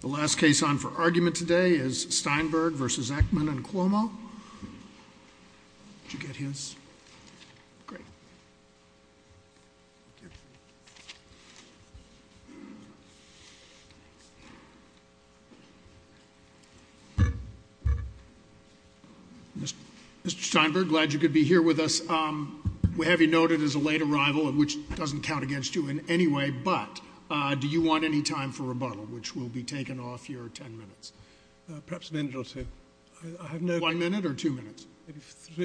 The last case on for argument today is Steinberg v. Elkman and Cuomo. Mr. Steinberg, glad you could be here with us. We have you noted as a late arrival, which doesn't count against you in any way, but do you want any time for rebuttal, which will be taken off your ten minutes? Perhaps a minute or two. One minute or two minutes?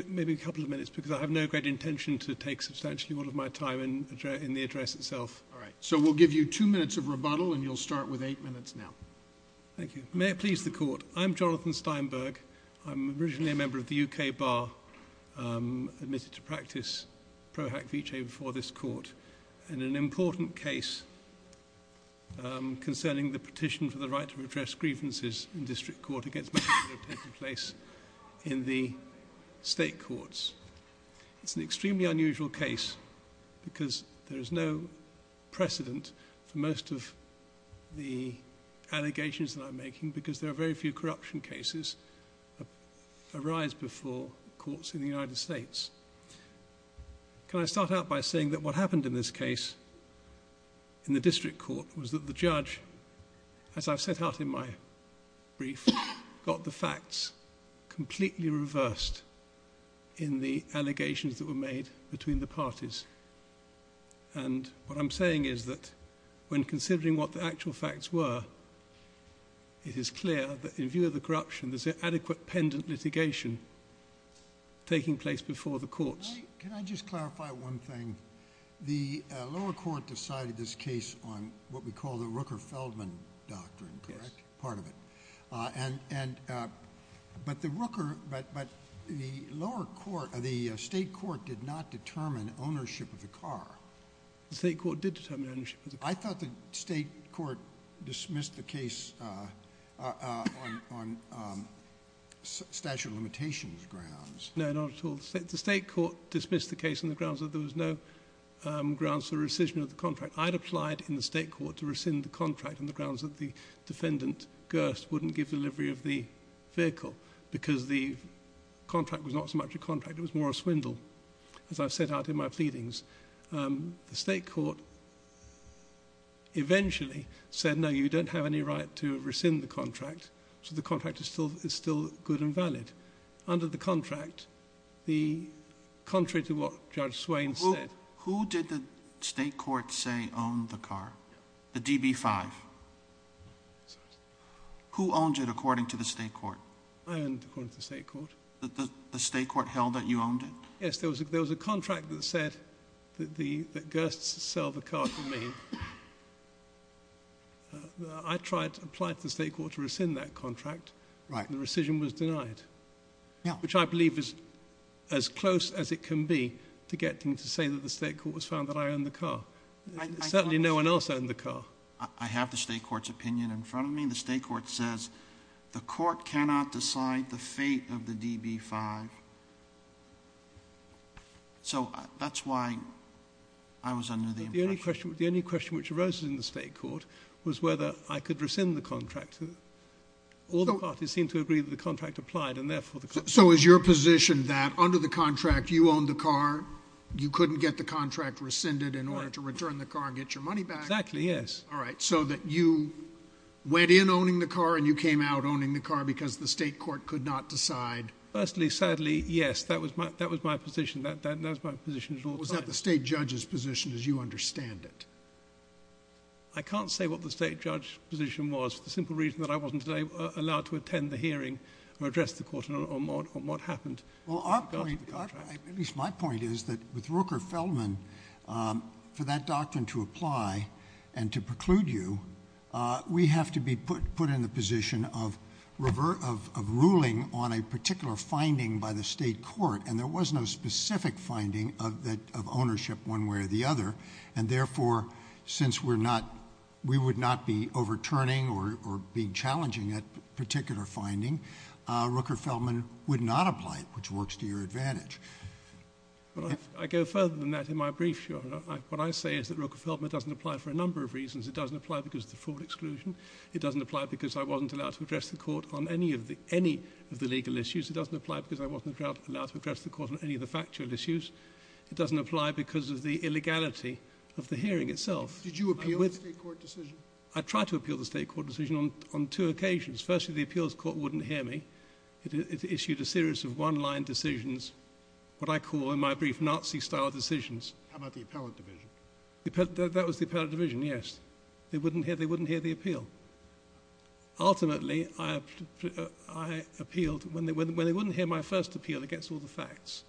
Maybe a couple of minutes, because I have no great intention to take substantially all of my time in the address itself. All right. So we'll give you two minutes of rebuttal, and you'll start with eight minutes now. Thank you. May it please the Court, I'm Jonathan Steinberg. I'm originally a member of the U.K. Bar, admitted to practice Pro Hac Vitae before this Court. And an important case concerning the petition for the right to redress grievances in district court against Mexico taking place in the state courts. It's an extremely unusual case, because there is no precedent for most of the allegations that I'm making, because there are very few corruption cases that arise before courts in the United States. Can I start out by saying that what happened in this case in the district court was that the judge, as I've set out in my brief, got the facts completely reversed in the allegations that were made between the parties. And what I'm saying is that when considering what the actual facts were, it is clear that in view of the corruption, there's an adequate pendant litigation taking place before the courts. Can I just clarify one thing? The lower court decided this case on what we call the Rooker-Feldman doctrine, correct? Yes. Part of it. But the state court did not determine ownership of the car. The state court did determine ownership of the car. I thought the state court dismissed the case on statute of limitations grounds. No, not at all. The state court dismissed the case on the grounds that there was no grounds for rescission of the contract. I'd applied in the state court to rescind the contract on the grounds that the defendant, Gerst, wouldn't give delivery of the vehicle because the contract was not so much a contract. It was more a swindle, as I've set out in my pleadings. The state court eventually said, no, you don't have any right to rescind the contract. So the contract is still good and valid. Under the contract, contrary to what Judge Swain said. Who did the state court say owned the car? The DB5. Who owned it according to the state court? I owned it according to the state court. The state court held that you owned it? Yes, there was a contract that said that Gerst sell the car to me. I tried to apply to the state court to rescind that contract. The rescission was denied. Which I believe is as close as it can be to getting to say that the state court has found that I own the car. Certainly no one else owned the car. I have the state court's opinion in front of me. The state court says the court cannot decide the fate of the DB5. So that's why I was under the impression. The only question which arose in the state court was whether I could rescind the contract. All the parties seemed to agree that the contract applied, and therefore the contract. So is your position that under the contract you owned the car, you couldn't get the contract rescinded in order to return the car and get your money back? Exactly, yes. All right, so that you went in owning the car and you came out owning the car because the state court could not decide? Firstly, sadly, yes. That was my position. That was my position at all times. Was that the state judge's position as you understand it? I can't say what the state judge's position was for the simple reason that I wasn't allowed to attend the hearing or address the court on what happened. Well, at least my point is that with Rooker-Feldman, for that doctrine to apply and to preclude you, we have to be put in the position of ruling on a particular finding by the state court. And there was no specific finding of ownership one way or the other. And therefore, since we would not be overturning or being challenging that particular finding, Rooker-Feldman would not apply it, which works to your advantage. I go further than that in my brief, Your Honor. What I say is that Rooker-Feldman doesn't apply for a number of reasons. It doesn't apply because of the fraud exclusion. It doesn't apply because I wasn't allowed to address the court on any of the legal issues. It doesn't apply because I wasn't allowed to address the court on any of the factual issues. It doesn't apply because of the illegality of the hearing itself. Did you appeal the state court decision? I tried to appeal the state court decision on two occasions. Firstly, the appeals court wouldn't hear me. It issued a series of one-line decisions, what I call in my brief Nazi-style decisions. How about the appellate division? That was the appellate division, yes. They wouldn't hear the appeal. Ultimately, I appealed. When they wouldn't hear my first appeal against all the facts,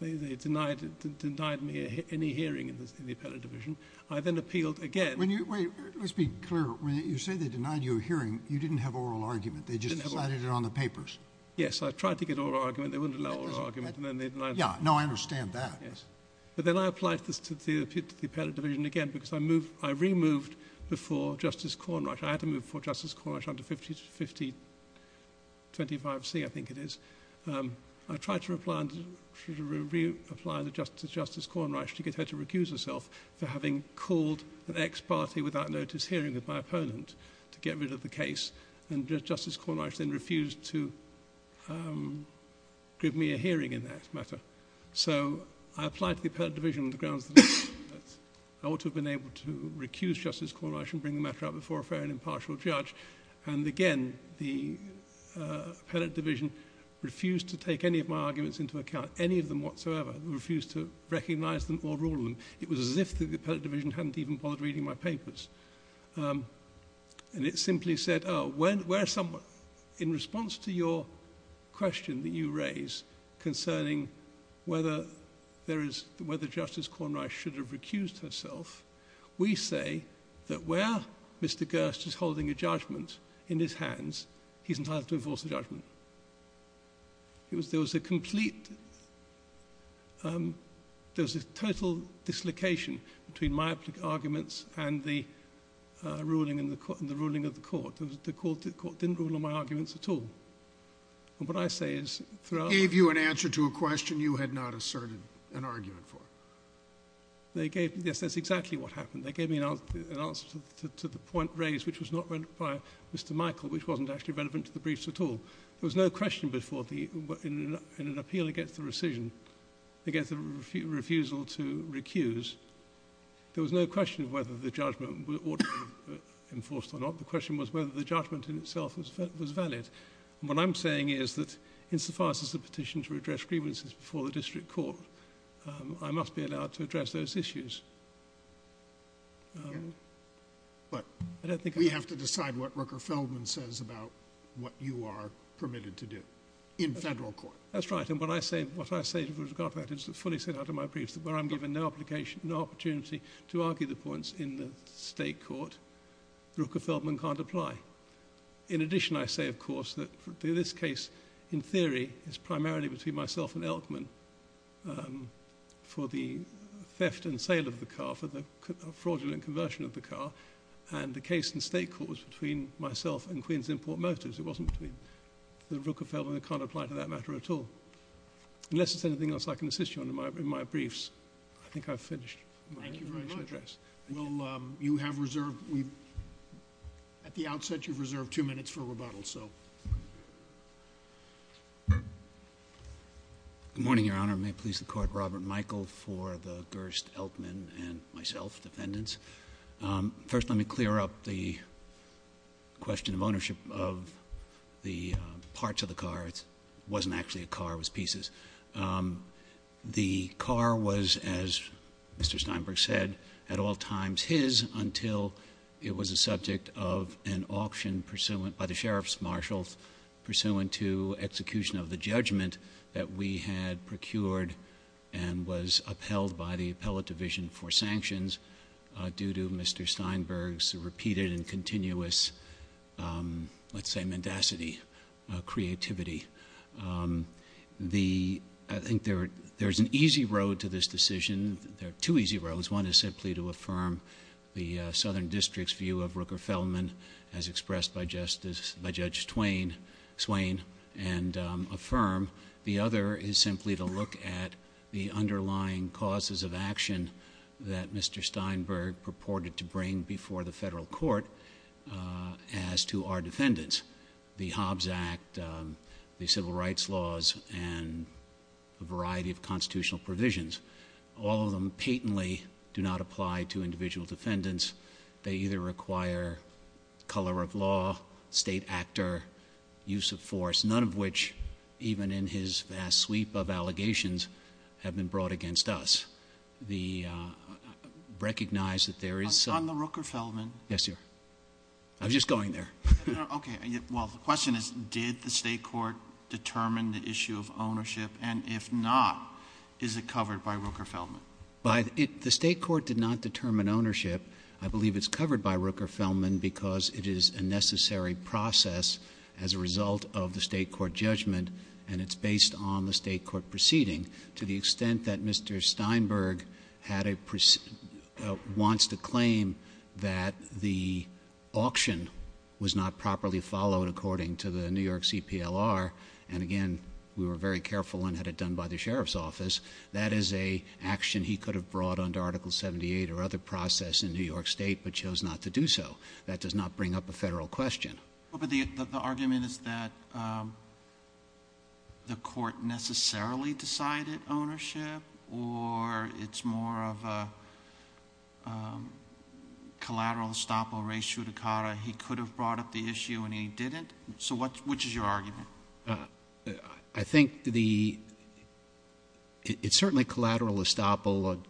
they denied me any hearing in the appellate division. I then appealed again. Wait, let's be clear. When you say they denied you a hearing, you didn't have oral argument. They just cited it on the papers. Yes, I tried to get oral argument. They wouldn't allow oral argument, and then they denied it. Yeah, no, I understand that. Then I applied to the appellate division again because I removed before Justice Cornrush. I had to move before Justice Cornrush under 50-25C, I think it is. I tried to reapply to Justice Cornrush to get her to recuse herself for having called an ex-party without notice hearing with my opponent to get rid of the case. Justice Cornrush then refused to give me a hearing in that matter. I applied to the appellate division on the grounds that I ought to have been able to recuse Justice Cornrush and bring the matter up before a fair and impartial judge. Again, the appellate division refused to take any of my arguments into account, any of them whatsoever. It refused to recognize them or rule them. It was as if the appellate division hadn't even bothered reading my papers. It simply said, in response to your question that you raised concerning whether Justice Cornrush should have recused herself, we say that where Mr. Gerst is holding a judgment in his hands, he's entitled to enforce the judgment. There was a complete, there was a total dislocation between my arguments and the ruling of the court. The court didn't rule on my arguments at all. And what I say is, throughout... Gave you an answer to a question you had not asserted an argument for. Yes, that's exactly what happened. They gave me an answer to the point raised, which was not by Mr. Michael, which wasn't actually relevant to the briefs at all. There was no question before the, in an appeal against the rescission, against the refusal to recuse, there was no question of whether the judgment ought to be enforced or not. The question was whether the judgment in itself was valid. And what I'm saying is that, insofar as there's a petition to redress grievances before the district court, I must be allowed to address those issues. But we have to decide what Rooker-Feldman says about what you are permitted to do in federal court. That's right. And what I say, what I say with regard to that is fully set out in my briefs, that where I'm given no application, no opportunity to argue the points in the state court, Rooker-Feldman can't apply. In addition, I say, of course, that this case, in theory, is primarily between myself and Elkman. For the theft and sale of the car, for the fraudulent conversion of the car, and the case in state court was between myself and Queens Import Motives. It wasn't between the Rooker-Feldman that can't apply to that matter at all. Unless there's anything else I can assist you on in my briefs, I think I've finished. Thank you very much. Well, you have reserved, at the outset you've reserved two minutes for rebuttal, so. Good morning, Your Honor. May it please the court, Robert Michael for the Gerst, Elkman, and myself, defendants. First, let me clear up the question of ownership of the parts of the car. It wasn't actually a car, it was pieces. The car was, as Mr. Steinberg said, at all times his until it was a subject of an auction by the sheriff's marshals pursuant to execution of the judgment that we had procured and was upheld by the appellate division for sanctions due to Mr. Steinberg's repeated and continuous, let's say, mendacity, creativity. I think there's an easy road to this decision. There are two easy roads. One is simply to affirm the Southern District's view of Rooker-Feldman as expressed by Judge Swain and affirm. The other is simply to look at the underlying causes of action that Mr. Steinberg purported to bring before the federal court as to our defendants, the Hobbs Act, the civil rights laws, and a variety of constitutional provisions. All of them patently do not apply to individual defendants. They either require color of law, state actor, use of force, none of which, even in his vast sweep of allegations, have been brought against us. Recognize that there is... On the Rooker-Feldman... Yes, sir. I was just going there. Okay. Well, the question is did the state court determine the issue of ownership, and if not, is it covered by Rooker-Feldman? The state court did not determine ownership. I believe it's covered by Rooker-Feldman because it is a necessary process as a result of the state court judgment and it's based on the state court proceeding to the extent that Mr. Steinberg wants to claim that the auction was not properly followed according to the New York CPLR. And, again, we were very careful and had it done by the sheriff's office. That is an action he could have brought under Article 78 or other process in New York State but chose not to do so. That does not bring up a federal question. But the argument is that the court necessarily decided ownership or it's more of a collateral estoppel res judicata. He could have brought up the issue and he didn't. So which is your argument? I think it's certainly collateral estoppel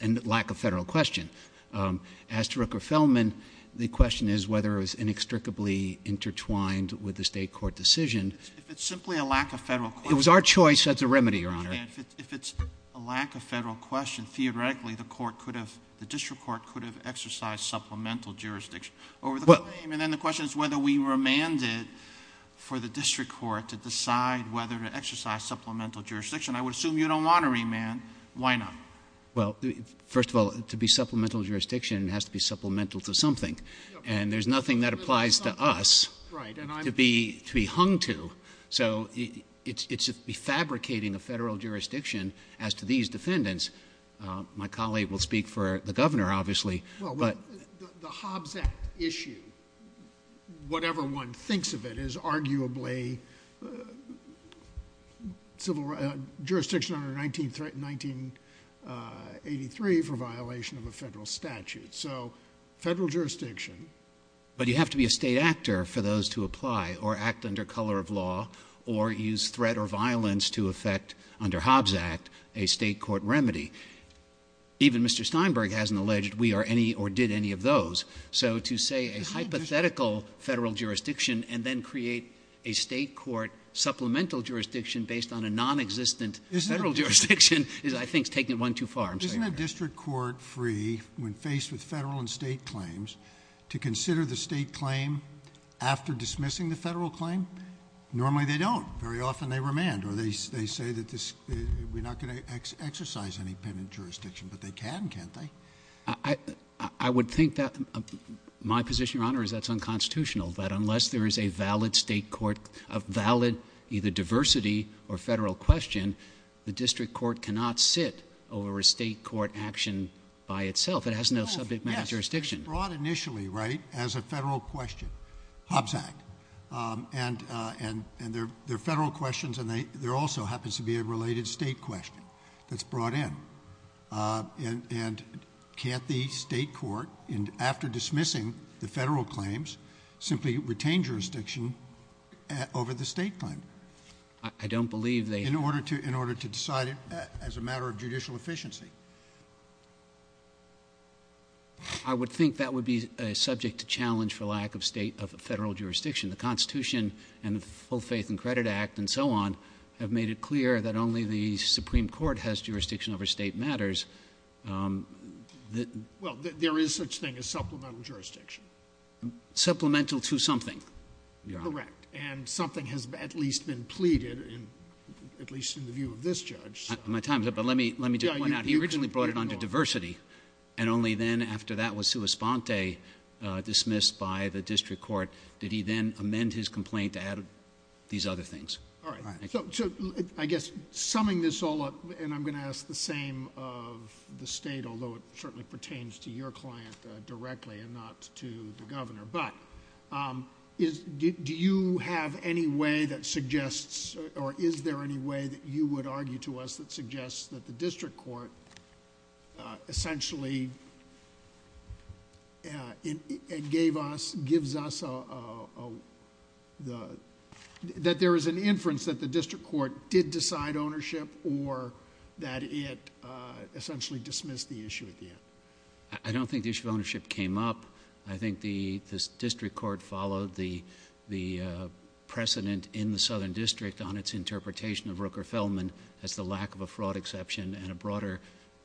and lack of federal question. As to Rooker-Feldman, the question is whether it was inextricably intertwined with the state court decision. If it's simply a lack of federal question. If it was our choice, that's a remedy, Your Honor. If it's a lack of federal question, theoretically the district court could have exercised supplemental jurisdiction. And then the question is whether we remanded for the district court to decide whether to exercise supplemental jurisdiction. I would assume you don't want to remand. Why not? Well, first of all, to be supplemental jurisdiction has to be supplemental to something. And there's nothing that applies to us to be hung to. So it's refabricating a federal jurisdiction as to these defendants. My colleague will speak for the governor, obviously. Well, the Hobbs Act issue, whatever one thinks of it, is arguably jurisdiction under 1983 for violation of a federal statute. So federal jurisdiction. But you have to be a state actor for those to apply or act under color of law or use threat or violence to effect, under Hobbs Act, a state court remedy. Even Mr. Steinberg hasn't alleged we are any or did any of those. So to say a hypothetical federal jurisdiction and then create a state court supplemental jurisdiction based on a nonexistent federal jurisdiction I think is taking it one too far. Isn't a district court free when faced with federal and state claims to consider the state claim after dismissing the federal claim? Normally they don't. Very often they remand. Or they say that we're not going to exercise independent jurisdiction. But they can, can't they? I would think that my position, Your Honor, is that's unconstitutional. That unless there is a valid state court, a valid either diversity or federal question, the district court cannot sit over a state court action by itself. It has no subject matter jurisdiction. It was brought initially as a federal question, Hobbs Act. And they're federal questions and there also happens to be a related state question that's brought in. And can't the state court, after dismissing the federal claims, simply retain jurisdiction over the state claim? I don't believe they have. In order to decide it as a matter of judicial efficiency. I would think that would be a subject to challenge for lack of state or federal jurisdiction. The Constitution and the Full Faith and Credit Act and so on have made it clear that only the Supreme Court has jurisdiction over state matters. Well, there is such thing as supplemental jurisdiction. Supplemental to something, Your Honor. Correct. And something has at least been pleaded, at least in the view of this judge. My time is up, but let me just point out he originally brought it under diversity. And only then, after that was sua sponte, dismissed by the district court, did he then amend his complaint to add these other things. All right. So, I guess, summing this all up, and I'm going to ask the same of the state, although it certainly pertains to your client directly and not to the governor, but do you have any way that suggests or is there any way that you would argue to us that suggests that the district court essentially gave us, gives us, that there is an inference that the district court did decide ownership or that it essentially dismissed the issue at the end? I don't think the issue of ownership came up. I think the district court followed the precedent in the Southern District on its interpretation of Rooker-Feldman as the lack of a fraud exception and a broader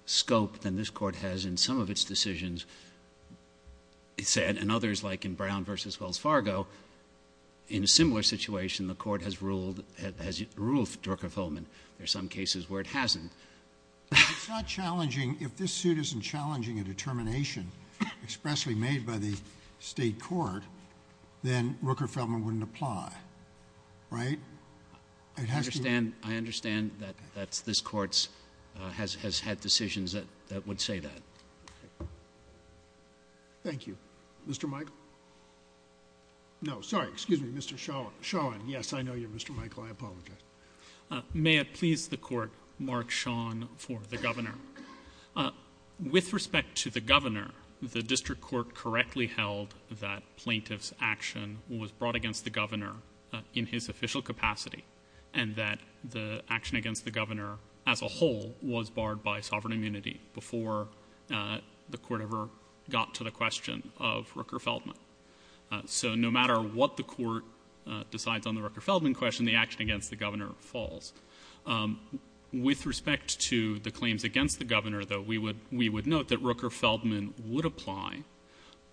scope than this court has in some of its decisions. And others, like in Brown v. Wells Fargo, in a similar situation, the court has ruled Rooker-Feldman. There are some cases where it hasn't. It's not challenging. If this suit isn't challenging a determination expressly made by the state court, then Rooker-Feldman wouldn't apply, right? I understand that this court has had decisions that would say that. Thank you. Mr. Michael? No, sorry, excuse me, Mr. Sean. Yes, I know you're Mr. Michael. I apologize. May it please the court, Mark Sean for the governor. With respect to the governor, the district court correctly held that plaintiff's action was brought against the governor in his official capacity and that the action against the governor as a whole was barred by sovereign immunity before the court ever got to the question of Rooker-Feldman. So no matter what the court decides on the Rooker-Feldman question, the action against the governor falls. With respect to the claims against the governor, though, we would note that Rooker-Feldman would apply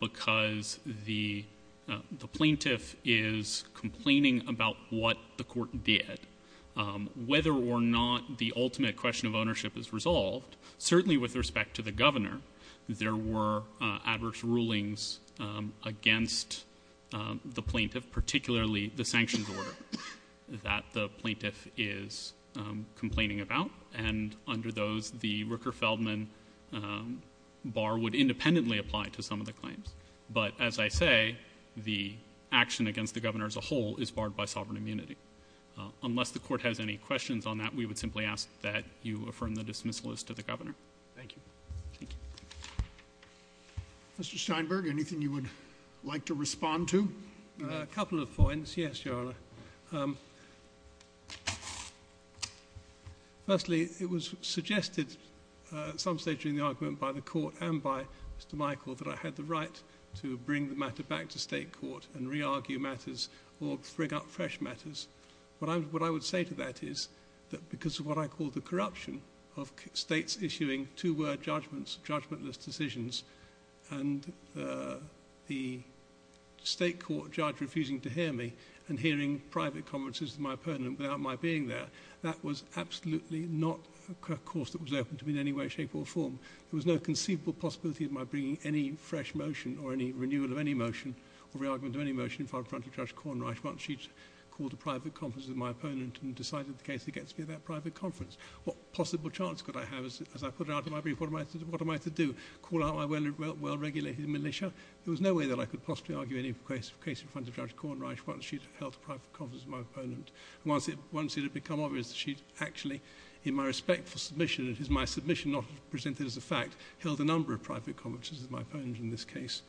because the plaintiff is complaining about what the court did. Whether or not the ultimate question of ownership is resolved, certainly with respect to the governor, there were adverse rulings against the plaintiff, particularly the sanctions order that the plaintiff is complaining about, and under those, the Rooker-Feldman bar would independently apply to some of the claims. But, as I say, the action against the governor as a whole is barred by sovereign immunity. Unless the court has any questions on that, we would simply ask that you affirm the dismissal as to the governor. Thank you. Mr. Steinberg, anything you would like to respond to? A couple of points, yes, Your Honor. Firstly, it was suggested at some stage in the argument by the court and by Mr. Michael that I had the right to bring the matter back to state court and re-argue matters or bring up fresh matters. What I would say to that is that because of what I call the corruption of states issuing two-word judgments, judgmentless decisions, and the state court judge refusing to hear me and hearing private conferences with my opponent without my being there, that was absolutely not a course that was open to me in any way, shape or form. There was no conceivable possibility of my bringing any fresh motion or any renewal of any motion or re-argument of any motion in front of Judge Cornrish once she'd called a private conference with my opponent and decided the case against me at that private conference. What possible chance could I have, as I put it out in my brief, what am I to do, call out my well-regulated militia? There was no way that I could possibly argue any case in front of Judge Cornrish once she'd held a private conference with my opponent. Once it had become obvious that she'd actually, in my respectful submission, it is my submission not presented as a fact, held a number of private conferences with my opponent in this case.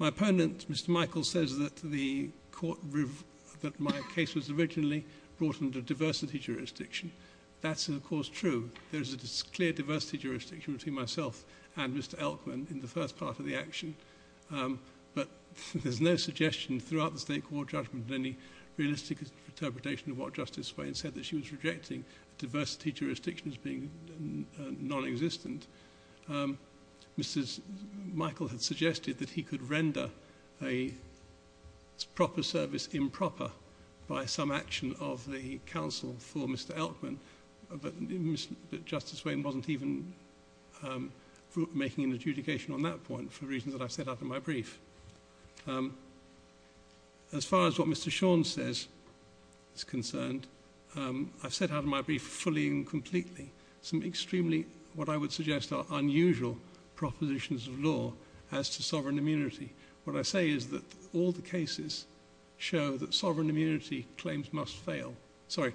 My opponent, Mr. Michael, says that my case was originally brought under diversity jurisdiction. That's, of course, true. There is a clear diversity jurisdiction between myself and Mr. Elkman in the first part of the action, but there's no suggestion throughout the State Court judgment of any realistic interpretation of what Justice Swain said, that she was rejecting diversity jurisdiction as being non-existent. Mr. Michael had suggested that he could render a proper service improper by some action of the counsel for Mr. Elkman, but Justice Swain wasn't even making an adjudication on that point for reasons that I've set out in my brief. As far as what Mr. Shawn says is concerned, I've set out in my brief fully and completely some extremely, what I would suggest are unusual, propositions of law as to sovereign immunity. What I say is that all the cases show that sovereign immunity claims must fail. Sorry,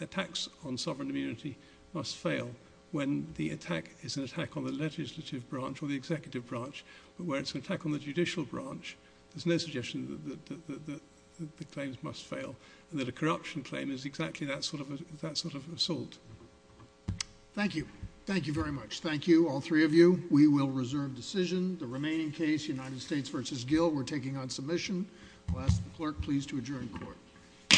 attacks on sovereign immunity must fail when the attack is an attack on the legislative branch or the executive branch, but where it's an attack on the judicial branch, there's no suggestion that the claims must fail and that a corruption claim is exactly that sort of assault. Thank you. Thank you very much. Thank you, all three of you. We will reserve decision. The remaining case, United States v. Gill, we're taking on submission. I'll ask the clerk please to adjourn court. Court is adjourned.